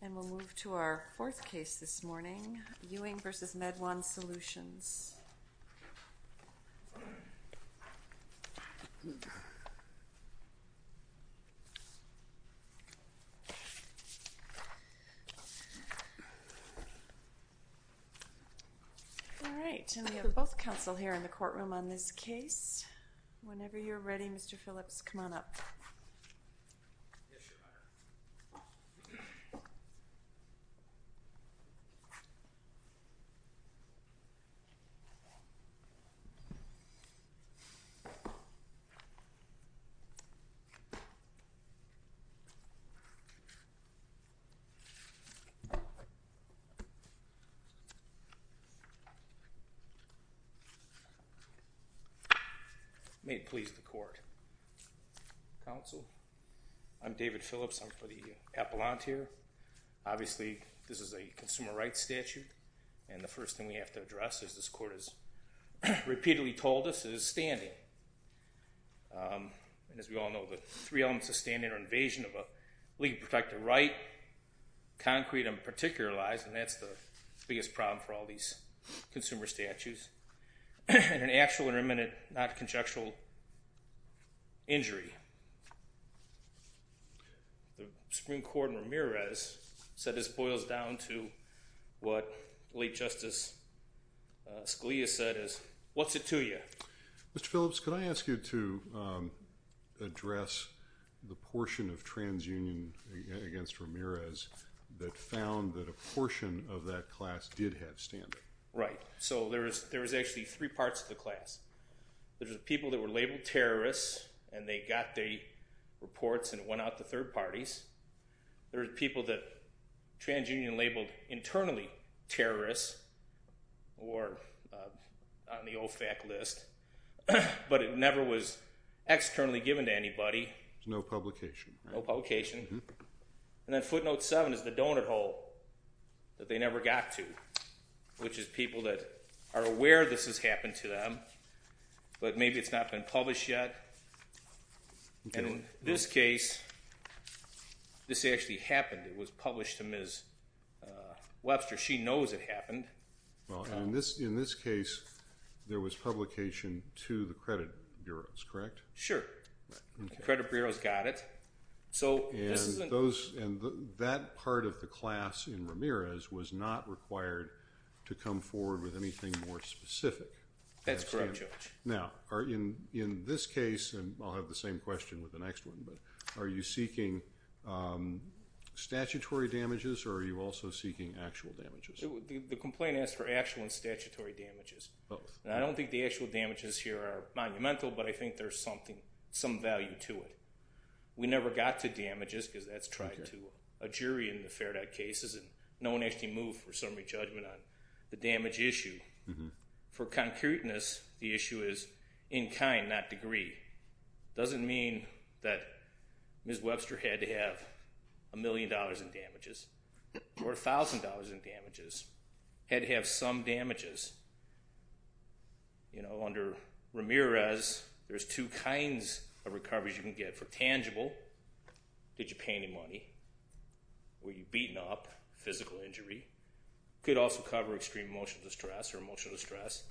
And we'll move to our fourth case this morning, Ewing v. Med-1 Solutions. All right, and we have both counsel here in the courtroom on this case. Whenever you're ready, Mr. Phillips, come on up. May it please the court, counsel, I'm David Phillips. I'm for the appellant here. Obviously, this is a consumer rights statute. And the first thing we have to address, as this court has repeatedly told us, is standing. And as we all know, the three elements of standing are invasion of a legally protected right, concrete and particular lies, and that's the biggest problem for all these consumer statutes, and an actual and imminent not conjectural injury. The Supreme Court in Ramirez said this boils down to what late Justice Scalia said is, what's it to you? Mr. Phillips, could I ask you to address the portion of transunion against Ramirez that found that a portion of that class did have standing? Right. So there was actually three parts of the class. There was people that were labeled terrorists, and they got their reports, and it went out to third parties. There were people that transunion labeled internally terrorists or on the OFAC list, but it never was externally given to anybody. No publication. No publication. And then footnote 7 is the donut hole that they never got to, which is people that are aware this has happened to them, but maybe it's not been published yet. And in this case, this actually happened. It was published to Ms. Webster. She knows it happened. In this case, there was publication to the credit bureaus, correct? Sure. The credit bureaus got it. And that part of the class in Ramirez was not required to come forward with anything more specific. That's correct, Judge. Now, in this case, and I'll have the same question with the next one, but are you seeking statutory damages or are you also seeking actual damages? The complaint asked for actual and statutory damages. I don't think the actual damages here are monumental, but I think there's some value to it. We never got to damages because that's tried to a jury in the FairDot cases, and no one actually moved for summary judgment on the damage issue. For concreteness, the issue is in kind, not degree. It doesn't mean that Ms. Webster had to have $1 million in damages or $1,000 in damages, had to have some damages. You know, under Ramirez, there's two kinds of recoveries you can get. For tangible, did you pay any money, were you beaten up, physical injury. It could also cover extreme emotional distress or emotional distress.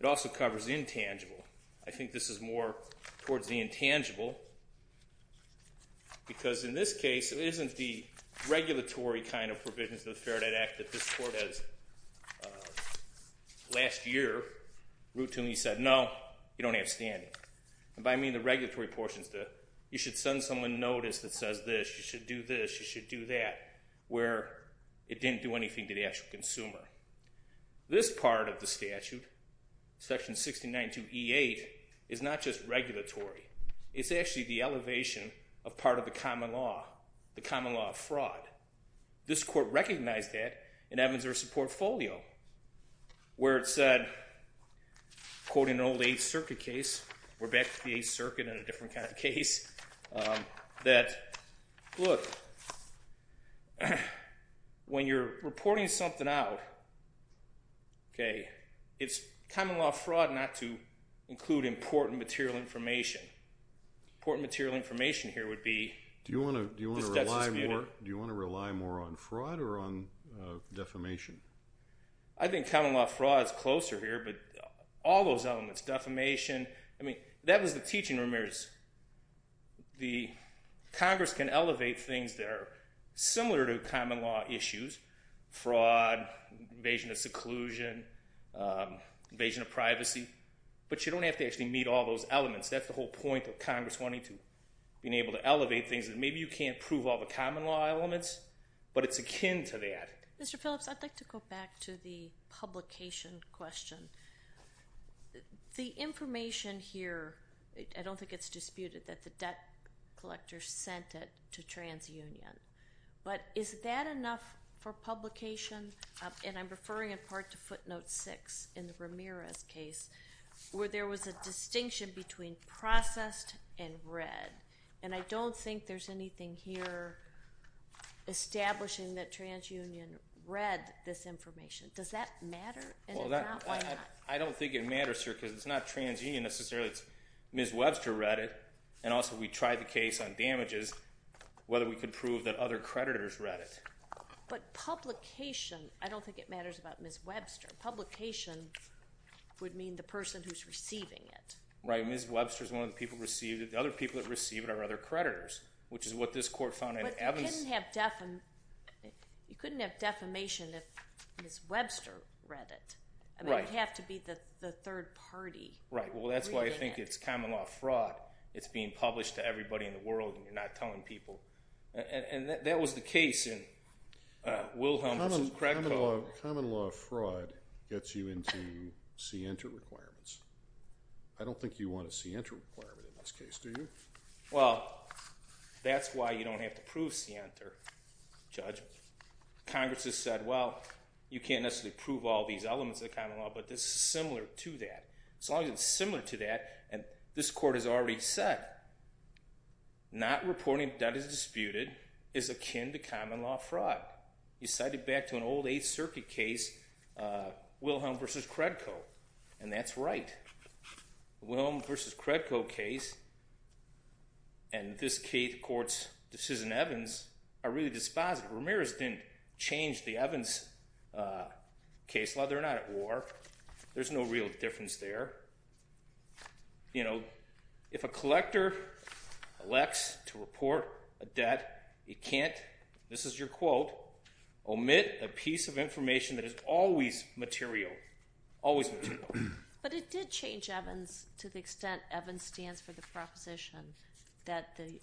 It also covers intangible. I think this is more towards the intangible because, in this case, it isn't the regulatory kind of provisions of the FairDot Act that this court has, last year, routinely said, no, you don't have standing. And by I mean the regulatory portions, you should send someone notice that says this, you should do this, you should do that, where it didn't do anything to the actual consumer. This part of the statute, section 692E8, is not just regulatory. It's actually the elevation of part of the common law, the common law of fraud. This court recognized that in Evans versus Portfolio, where it said, quoting an old Eighth Circuit case, we're back to the Eighth Circuit in a different kind of case, that, look, when you're reporting something out, okay, it's common law of fraud not to include important material information. Important material information here would be. Do you want to rely more on fraud or on defamation? I think common law of fraud is closer here, but all those elements, defamation, I mean, that was the teaching, Ramirez. The Congress can elevate things that are similar to common law issues, fraud, invasion of seclusion, invasion of privacy, but you don't have to actually meet all those elements. That's the whole point of Congress wanting to be able to elevate things. Maybe you can't prove all the common law elements, but it's akin to that. Mr. Phillips, I'd like to go back to the publication question. The information here, I don't think it's disputed that the debt collector sent it to TransUnion, but is that enough for publication? And I'm referring in part to Footnote 6 in Ramirez's case, where there was a distinction between processed and read, and I don't think there's anything here establishing that TransUnion read this information. Does that matter? Well, I don't think it matters here because it's not TransUnion necessarily. It's Ms. Webster read it, and also we tried the case on damages, whether we could prove that other creditors read it. But publication, I don't think it matters about Ms. Webster. Publication would mean the person who's receiving it. Right, and Ms. Webster is one of the people who received it. The other people that received it are other creditors, which is what this court found in Evans. But you couldn't have defamation if Ms. Webster read it. Right. It would have to be the third party reading it. Right. Well, that's why I think it's common law fraud. It's being published to everybody in the world, and you're not telling people. And that was the case in Wilhelm v. Kretko. Common law fraud gets you into scienter requirements. I don't think you want a scienter requirement in this case, do you? Well, that's why you don't have to prove scienter, Judge. Congress has said, well, you can't necessarily prove all these elements of the common law, but this is similar to that. As long as it's similar to that, and this court has already said, not reporting that is disputed is akin to common law fraud. You cite it back to an old Eighth Circuit case, Wilhelm v. Kretko, and that's right. Wilhelm v. Kretko case and this court's decision in Evans are really dispositive. Ramirez didn't change the Evans case. Well, they're not at war. There's no real difference there. If a collector elects to report a debt, it can't, this is your quote, omit a piece of information that is always material, always material. But it did change Evans to the extent Evans stands for the proposition that the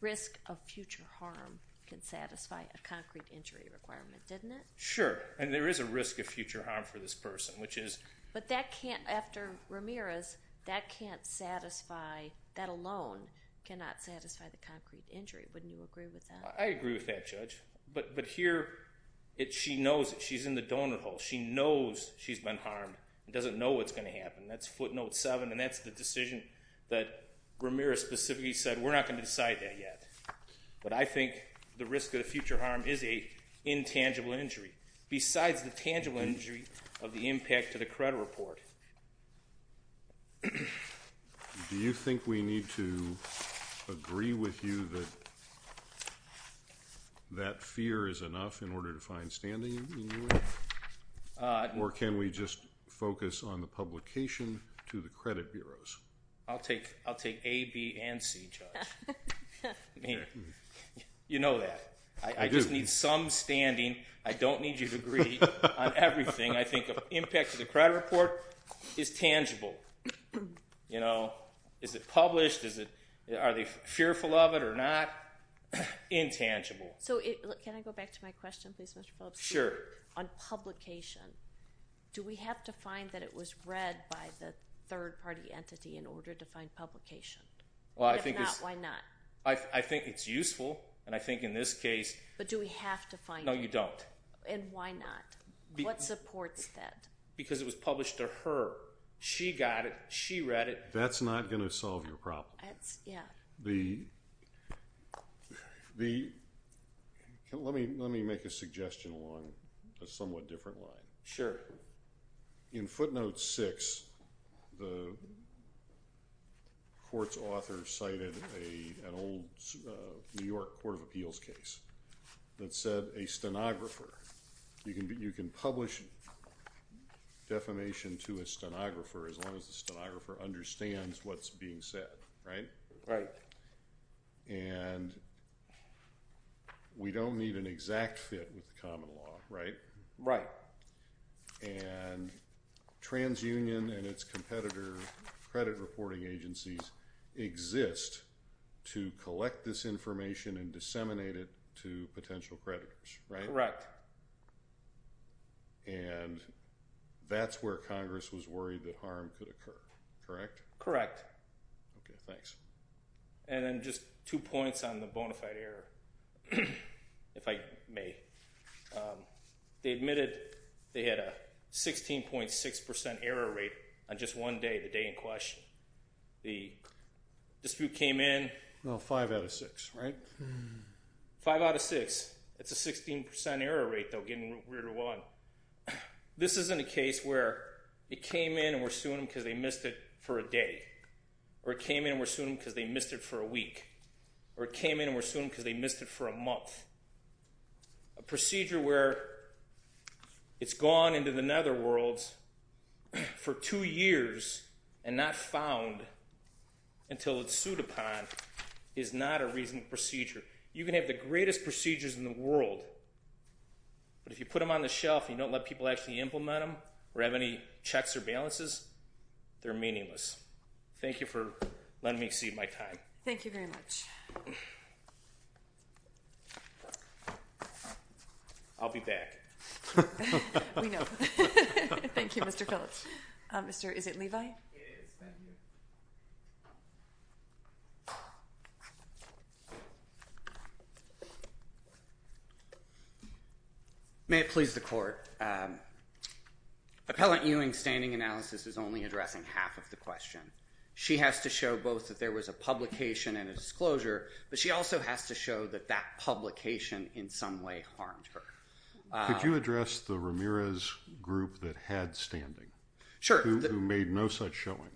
risk of future harm can satisfy a concrete injury requirement, didn't it? Sure, and there is a risk of future harm for this person, which is... But that can't, after Ramirez, that can't satisfy, that alone cannot satisfy the concrete injury. Wouldn't you agree with that? I agree with that, Judge. But here, she knows it. She's in the donor hole. She knows she's been harmed and doesn't know what's going to happen. That's footnote 7, and that's the decision that Ramirez specifically said, we're not going to decide that yet. But I think the risk of future harm is an intangible injury, besides the tangible injury of the impact to the credit report. Do you think we need to agree with you that that fear is enough in order to find standing? Or can we just focus on the publication to the credit bureaus? I'll take A, B, and C, Judge. You know that. I just need some standing. I don't need you to agree on everything. I think the impact to the credit report is tangible. Is it published? Are they fearful of it or not? Intangible. Can I go back to my question, please, Mr. Phillips? Sure. On publication, do we have to find that it was read by the third-party entity in order to find publication? If not, why not? I think it's useful, and I think in this case. But do we have to find it? No, you don't. And why not? What supports that? Because it was published to her. She got it. She read it. That's not going to solve your problem. Yeah. Let me make a suggestion along a somewhat different line. Sure. In footnote 6, the court's author cited an old New York court of appeals case that said a stenographer. You can publish defamation to a stenographer as long as the stenographer understands what's being said, right? Right. And we don't need an exact fit with the common law, right? Right. And TransUnion and its competitor credit reporting agencies exist to collect this information and disseminate it to potential creditors, right? Correct. And that's where Congress was worried that harm could occur, correct? Correct. Okay, thanks. And then just two points on the bona fide error, if I may. They admitted they had a 16.6% error rate on just one day, the day in question. The dispute came in. Well, five out of six, right? Five out of six. It's a 16% error rate, though, getting weirder one. This isn't a case where it came in and we're suing them because they missed it for a day. Or it came in and we're suing them because they missed it for a week. Or it came in and we're suing them because they missed it for a month. A procedure where it's gone into the netherworlds for two years and not found until it's sued upon is not a reasonable procedure. You can have the greatest procedures in the world, but if you put them on the shelf and you don't let people actually implement them or have any checks or balances, they're meaningless. Thank you for letting me exceed my time. Thank you very much. I'll be back. We know. Thank you, Mr. Phillips. Is it Levi? It is. Thank you. May it please the Court. Appellant Ewing's standing analysis is only addressing half of the question. She has to show both that there was a publication and a disclosure, but she also has to show that that publication in some way harmed her. Could you address the Ramirez group that had standing? Sure. Who made no such showing?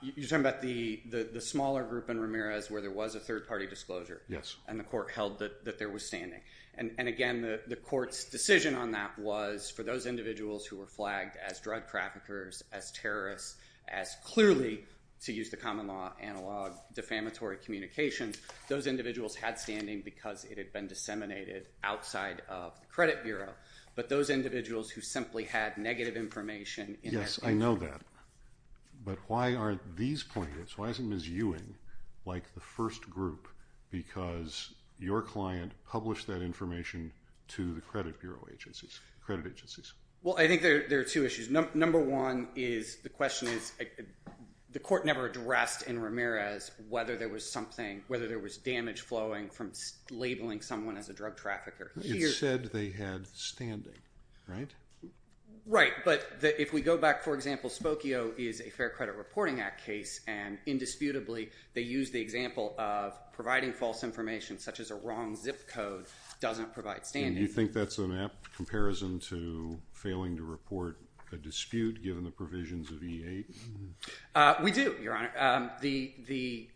You're talking about the smaller group in Ramirez where there was a third-party disclosure? Yes. And the Court held that there was standing. And again, the Court's decision on that was for those individuals who were flagged as drug traffickers, as terrorists, as clearly, to use the common law analog, defamatory communications, those individuals had standing because it had been disseminated outside of the Credit Bureau, but those individuals who simply had negative information in their page. Yes, I know that. But why aren't these plaintiffs, why isn't Ms. Ewing like the first group, because your client published that information to the credit agencies? Well, I think there are two issues. Number one is the question is the Court never addressed in Ramirez whether there was something, whether there was damage flowing from labeling someone as a drug trafficker. It said they had standing, right? Right. But if we go back, for example, Spokio is a Fair Credit Reporting Act case, and indisputably they used the example of providing false information such as a wrong zip code doesn't provide standing. And you think that's an apt comparison to failing to report a dispute given the provisions of E-8? We do, Your Honor. The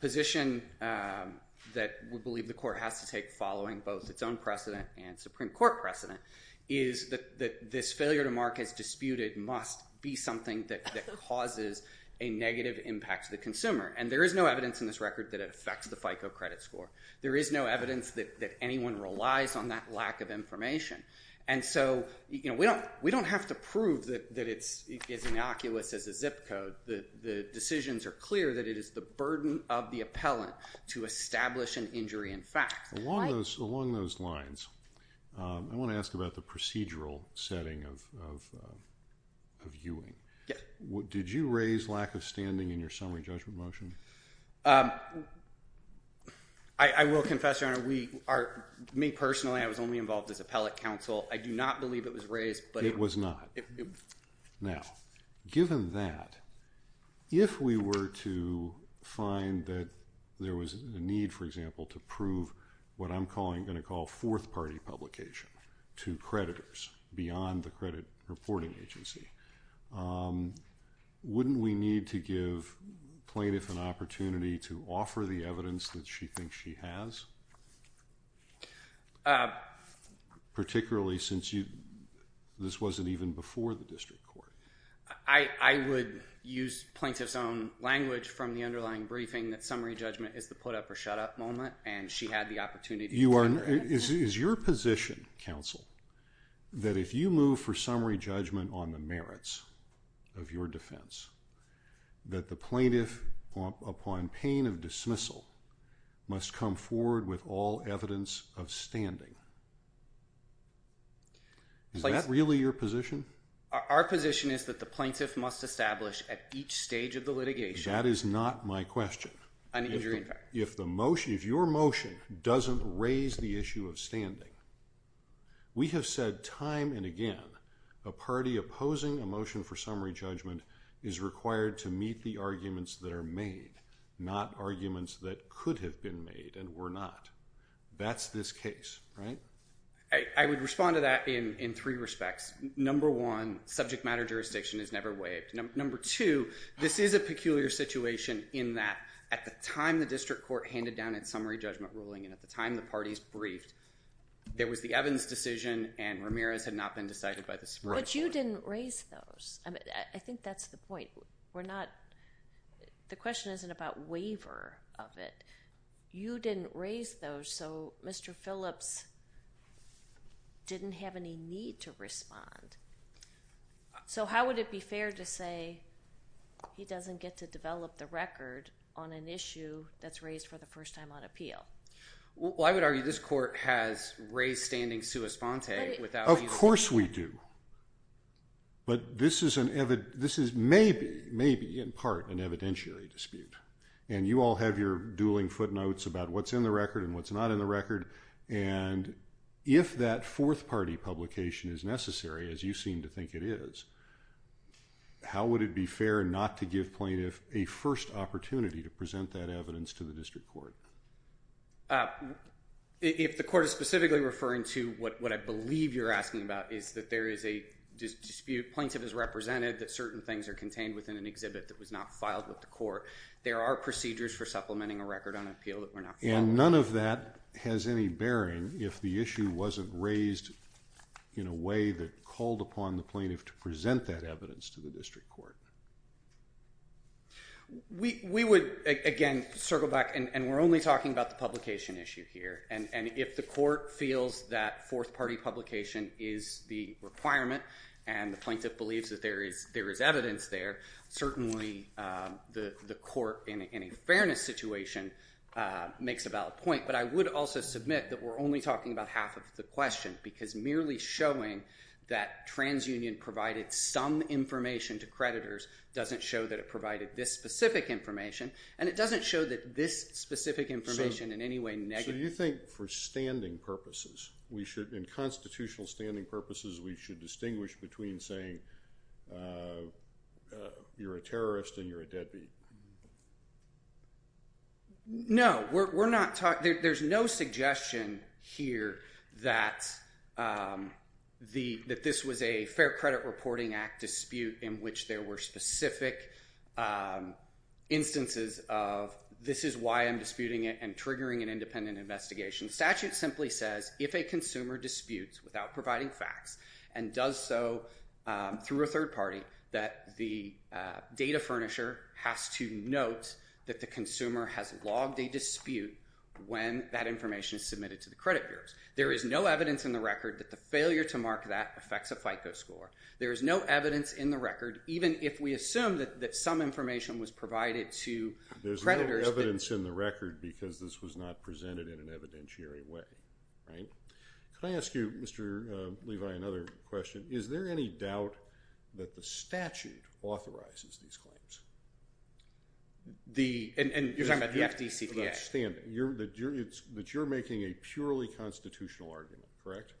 position that we believe the Court has to take following both its own precedent and Supreme Court precedent is that this failure to mark as disputed must be something that causes a negative impact to the consumer. And there is no evidence in this record that it affects the FICO credit score. There is no evidence that anyone relies on that lack of information. And so we don't have to prove that it's innocuous as a zip code. The decisions are clear that it is the burden of the appellant to establish an injury in fact. Along those lines, I want to ask about the procedural setting of Ewing. Did you raise lack of standing in your summary judgment motion? I will confess, Your Honor, me personally, I was only involved as appellate counsel. I do not believe it was raised. It was not. Now, given that, if we were to find that there was a need, for example, to prove what I'm going to call fourth-party publication to creditors beyond the credit reporting agency, wouldn't we need to give plaintiff an opportunity to offer the evidence that she thinks she has? Particularly since this wasn't even before the district court. I would use plaintiff's own language from the underlying briefing that summary judgment is the put-up-or-shut-up moment, and she had the opportunity. Is your position, counsel, that if you move for summary judgment on the merits of your defense, that the plaintiff, upon pain of dismissal, must come forward with all evidence of standing? Is that really your position? Our position is that the plaintiff must establish at each stage of the litigation an injury in fact. That is not my question. If your motion doesn't raise the issue of standing, we have said time and again, a party opposing a motion for summary judgment is required to meet the arguments that are made, not arguments that could have been made and were not. That's this case, right? I would respond to that in three respects. Number one, subject matter jurisdiction is never waived. Number two, this is a peculiar situation in that at the time the district court handed down its summary judgment ruling and at the time the parties briefed, there was the Evans decision and Ramirez had not been decided by the Supreme Court. But you didn't raise those. I think that's the point. The question isn't about waiver of it. You didn't raise those, so Mr. Phillips didn't have any need to respond. So how would it be fair to say he doesn't get to develop the record on an issue that's raised for the first time on appeal? Well, I would argue this court has raised standing sua sponte without you saying that. Of course we do. But this is maybe, in part, an evidentiary dispute. And you all have your dueling footnotes about what's in the record and what's not in the record. And if that fourth-party publication is necessary, as you seem to think it is, how would it be fair not to give plaintiff a first opportunity to present that evidence to the district court? If the court is specifically referring to what I believe you're asking about, is that there is a dispute. Plaintiff has represented that certain things are contained within an exhibit that was not filed with the court. There are procedures for supplementing a record on appeal that were not filed. And none of that has any bearing if the issue wasn't raised in a way that called upon the plaintiff to present that evidence to the district court. We would, again, circle back, and we're only talking about the publication issue here. And if the court feels that fourth-party publication is the requirement and the plaintiff believes that there is evidence there, certainly the court in a fairness situation makes a valid point. But I would also submit that we're only talking about half of the question because merely showing that TransUnion provided some information to creditors doesn't show that it provided this specific information, and it doesn't show that this specific information in any way negates it. So you think for standing purposes, in constitutional standing purposes, we should distinguish between saying you're a terrorist and you're a deadbeat? No. There's no suggestion here that this was a Fair Credit Reporting Act dispute in which there were specific instances of this is why I'm disputing it and triggering an independent investigation. The statute simply says if a consumer disputes without providing facts and does so through a third party, that the data furnisher has to note that the consumer has logged a dispute when that information is submitted to the credit bureaus. There is no evidence in the record that the failure to mark that affects a FICO score. There is no evidence in the record, even if we assume that some information was provided to creditors. There is no evidence in the record because this was not presented in an evidentiary way. Can I ask you, Mr. Levi, another question? Is there any doubt that the statute authorizes these claims? You're talking about the FDCPA? For that standing. That you're making a purely constitutional argument, correct?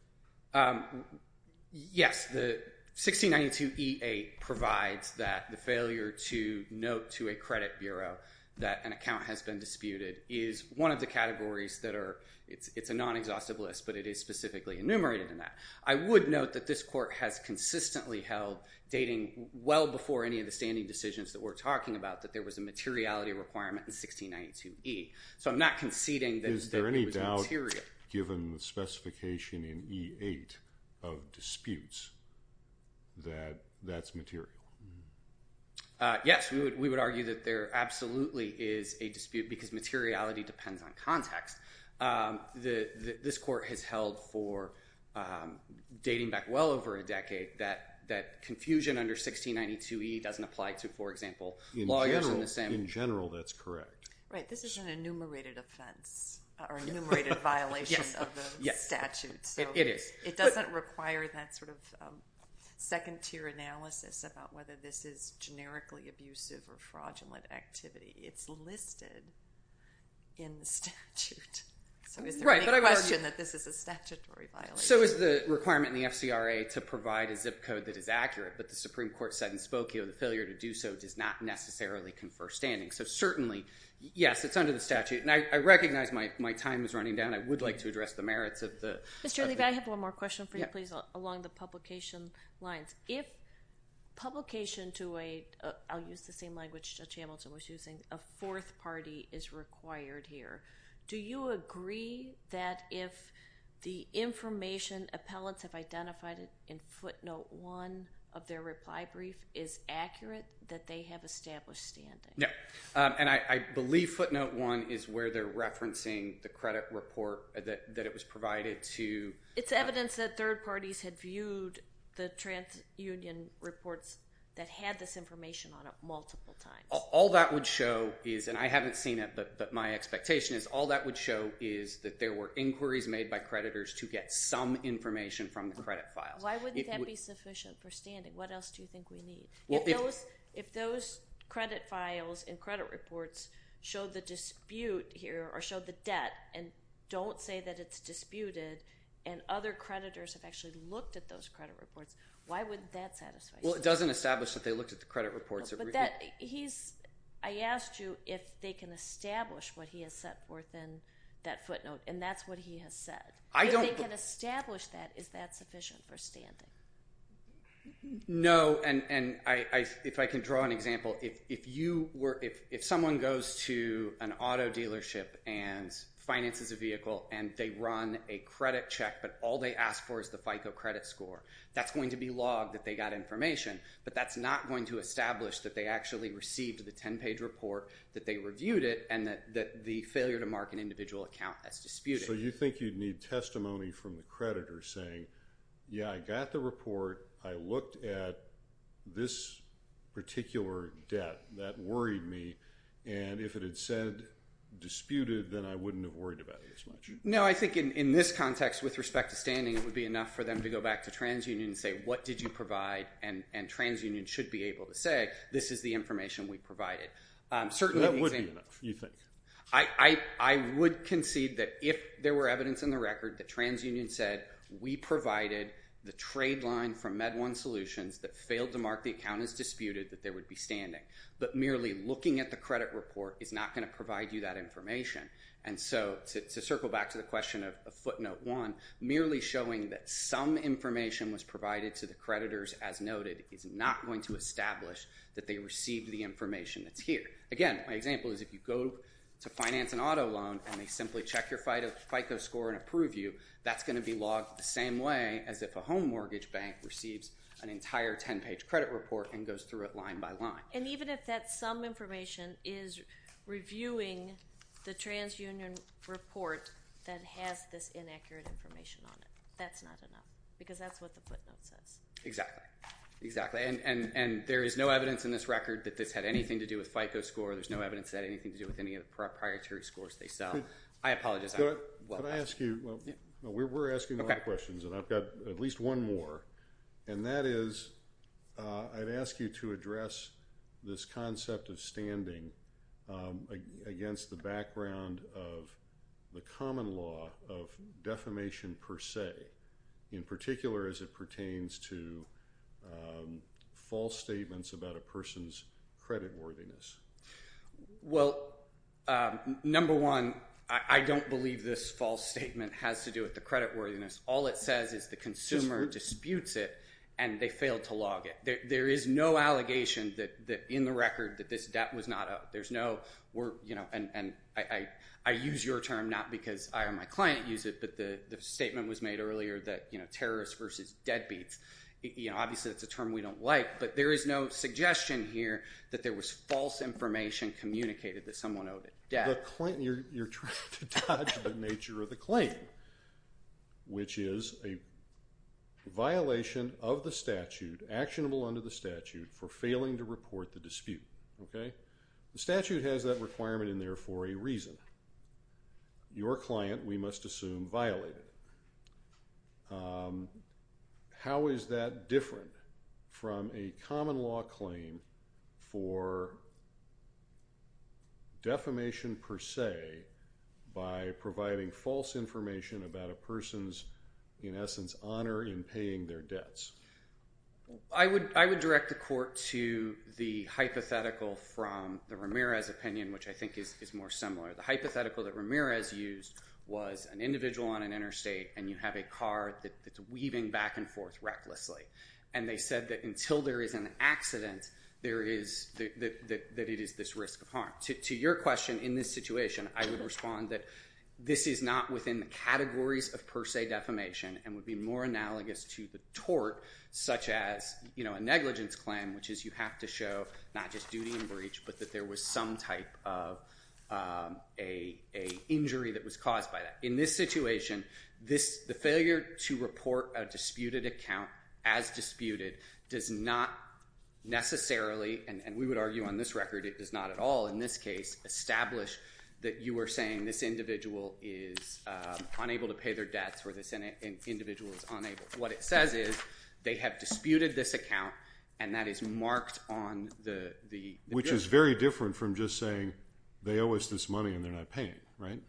Yes. The 1692E8 provides that the failure to note to a credit bureau that an account has been disputed is one of the categories that are, it's a non-exhaustive list, but it is specifically enumerated in that. I would note that this court has consistently held, dating well before any of the standing decisions that we're talking about, that there was a materiality requirement in 1692E. So I'm not conceding that it was material. Given the specification in E8 of disputes that that's material. Yes. We would argue that there absolutely is a dispute because materiality depends on context. This court has held for, dating back well over a decade, that confusion under 1692E doesn't apply to, for example, lawyers in the same. In general, that's correct. Right. This is an enumerated offense or enumerated violation of the statute. It is. It doesn't require that sort of second tier analysis about whether this is generically abusive or fraudulent activity. It's listed in the statute. So is there any question that this is a statutory violation? So is the requirement in the FCRA to provide a zip code that is accurate, but the Supreme Court said in Spokio the failure to do so does not necessarily confer standing. So certainly, yes, it's under the statute. And I recognize my time is running down. I would like to address the merits of the. Mr. Levy, I have one more question for you, please, along the publication lines. If publication to a, I'll use the same language Judge Hamilton was using, a fourth party is required here, do you agree that if the information appellants have identified in footnote one of their reply brief is accurate that they have established standing? No, and I believe footnote one is where they're referencing the credit report that it was provided to. It's evidence that third parties had viewed the transunion reports that had this information on it multiple times. All that would show is, and I haven't seen it, but my expectation is all that would show is that there were inquiries made by creditors to get some information from the credit files. Why wouldn't that be sufficient for standing? What else do you think we need? If those credit files and credit reports show the dispute here or show the debt and don't say that it's disputed and other creditors have actually looked at those credit reports, why wouldn't that satisfy you? Well, it doesn't establish that they looked at the credit reports. But that, he's, I asked you if they can establish what he has set forth in that footnote, and that's what he has said. If they can establish that, is that sufficient for standing? No, and if I can draw an example. If you were, if someone goes to an auto dealership and finances a vehicle and they run a credit check but all they ask for is the FICO credit score, that's going to be logged that they got information, but that's not going to establish that they actually received the 10-page report, that they reviewed it, and that the failure to mark an individual account as disputed. So you think you'd need testimony from the creditor saying, yeah, I got the report, I looked at this particular debt that worried me, and if it had said disputed, then I wouldn't have worried about it as much. No, I think in this context, with respect to standing, it would be enough for them to go back to TransUnion and say, what did you provide? And TransUnion should be able to say, this is the information we provided. That would be enough, you think? I would concede that if there were evidence in the record that TransUnion said, we provided the trade line from MedOne Solutions that failed to mark the account as disputed, that there would be standing. But merely looking at the credit report is not going to provide you that information. And so to circle back to the question of footnote one, merely showing that some information was provided to the creditors as noted is not going to establish that they received the information that's here. Again, my example is if you go to finance an auto loan and they simply check your FICO score and approve you, that's going to be logged the same way as if a home mortgage bank receives an entire 10-page credit report and goes through it line by line. And even if that some information is reviewing the TransUnion report that has this inaccurate information on it, that's not enough. Because that's what the footnote says. Exactly. And there is no evidence in this record that this had anything to do with FICO score. There's no evidence it had anything to do with any of the proprietary scores they sell. I apologize. Can I ask you? We're asking a lot of questions, and I've got at least one more. And that is I'd ask you to address this concept of standing against the background of the common law of defamation per se, in particular as it pertains to false statements about a person's creditworthiness. Well, number one, I don't believe this false statement has to do with the creditworthiness. All it says is the consumer disputes it, and they failed to log it. There is no allegation in the record that this debt was not owed. And I use your term not because I or my client use it, but the statement was made earlier that terrorists versus deadbeats. Obviously, that's a term we don't like, but there is no suggestion here that there was false information communicated that someone owed debt. You're trying to dodge the nature of the claim, which is a violation of the statute, actionable under the statute, for failing to report the dispute. The statute has that requirement in there for a reason. Your client, we must assume, violated it. How is that different from a common law claim for defamation per se by providing false information about a person's, in essence, honor in paying their debts? I would direct the court to the hypothetical from the Ramirez opinion, which I think is more similar. The hypothetical that Ramirez used was an individual on an interstate, and you have a car that's weaving back and forth recklessly. And they said that until there is an accident, that it is this risk of harm. To your question, in this situation, I would respond that this is not within the categories of per se defamation and would be more analogous to the tort, such as a negligence claim, which is you have to show not just duty and breach, but that there was some type of an injury that was caused by that. In this situation, the failure to report a disputed account as disputed does not necessarily, and we would argue on this record it does not at all in this case, establish that you are saying this individual is unable to pay their debts or this individual is unable. What it says is they have disputed this account, and that is marked on the bill. Which is very different from just saying they owe us this money and they're not paying it, right?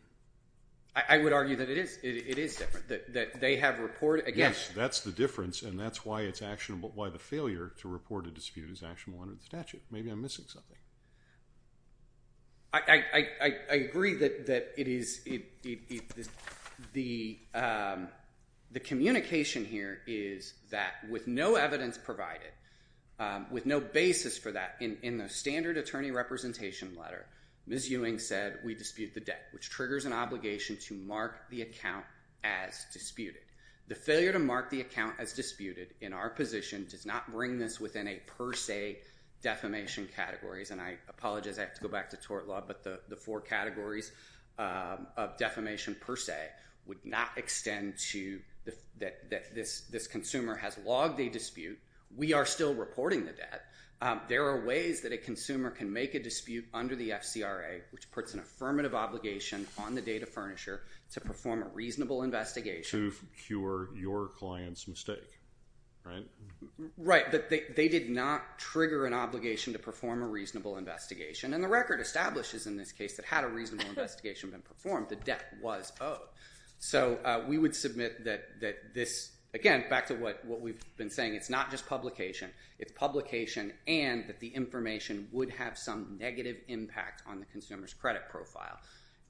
I would argue that it is. It is different, that they have reported. Yes, that's the difference, and that's why it's actionable, why the failure to report a dispute is actionable under the statute. Maybe I'm missing something. I agree that the communication here is that with no evidence provided, with no basis for that in the standard attorney representation letter, Ms. Ewing said we dispute the debt, which triggers an obligation to mark the account as disputed. The failure to mark the account as disputed in our position does not bring this within a per se defamation category, and I apologize, I have to go back to tort law, but the four categories of defamation per se would not extend to that this consumer has logged a dispute. We are still reporting the debt. There are ways that a consumer can make a dispute under the FCRA, which puts an affirmative obligation on the data furnisher to perform a reasonable investigation. To cure your client's mistake, right? They did not trigger an obligation to perform a reasonable investigation, and the record establishes in this case that had a reasonable investigation been performed, the debt was owed. So we would submit that this, again, back to what we've been saying, it's not just publication, it's publication, and that the information would have some negative impact on the consumer's credit profile,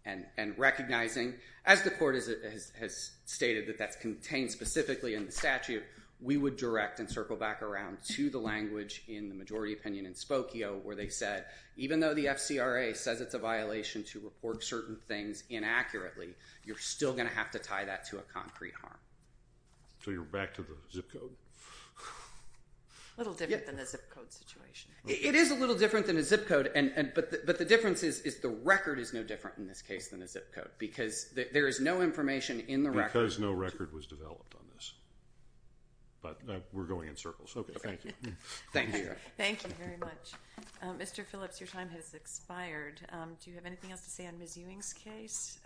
and recognizing, as the court has stated that that's contained specifically in the statute, we would direct and circle back around to the language in the majority opinion in Spokio where they said, even though the FCRA says it's a violation to report certain things inaccurately, you're still going to have to tie that to a concrete harm. So you're back to the zip code? A little different than the zip code situation. It is a little different than the zip code, but the difference is the record is no different in this case than the zip code because there is no information in the record. Because no record was developed on this. But we're going in circles. Okay, thank you. Thank you. Thank you very much. Mr. Phillips, your time has expired. Do you have anything else to say on Ms. Ewing's case?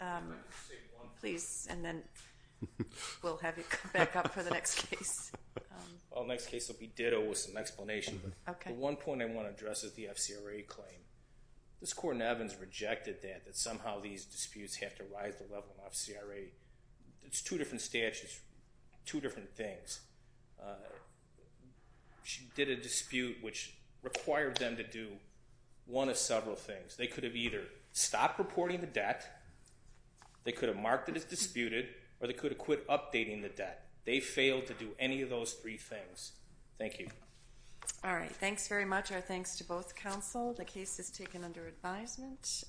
Please, and then we'll have you come back up for the next case. Well, the next case will be ditto with some explanation. Okay. The one point I want to address is the FCRA claim. This court in Evans rejected that, that somehow these disputes have to rise to the level of FCRA. It's two different statutes, two different things. She did a dispute which required them to do one of several things. They could have either stopped reporting the debt, they could have marked it as disputed, or they could have quit updating the debt. They failed to do any of those three things. Thank you. All right, thanks very much. Our thanks to both counsel. The case is taken under advisement.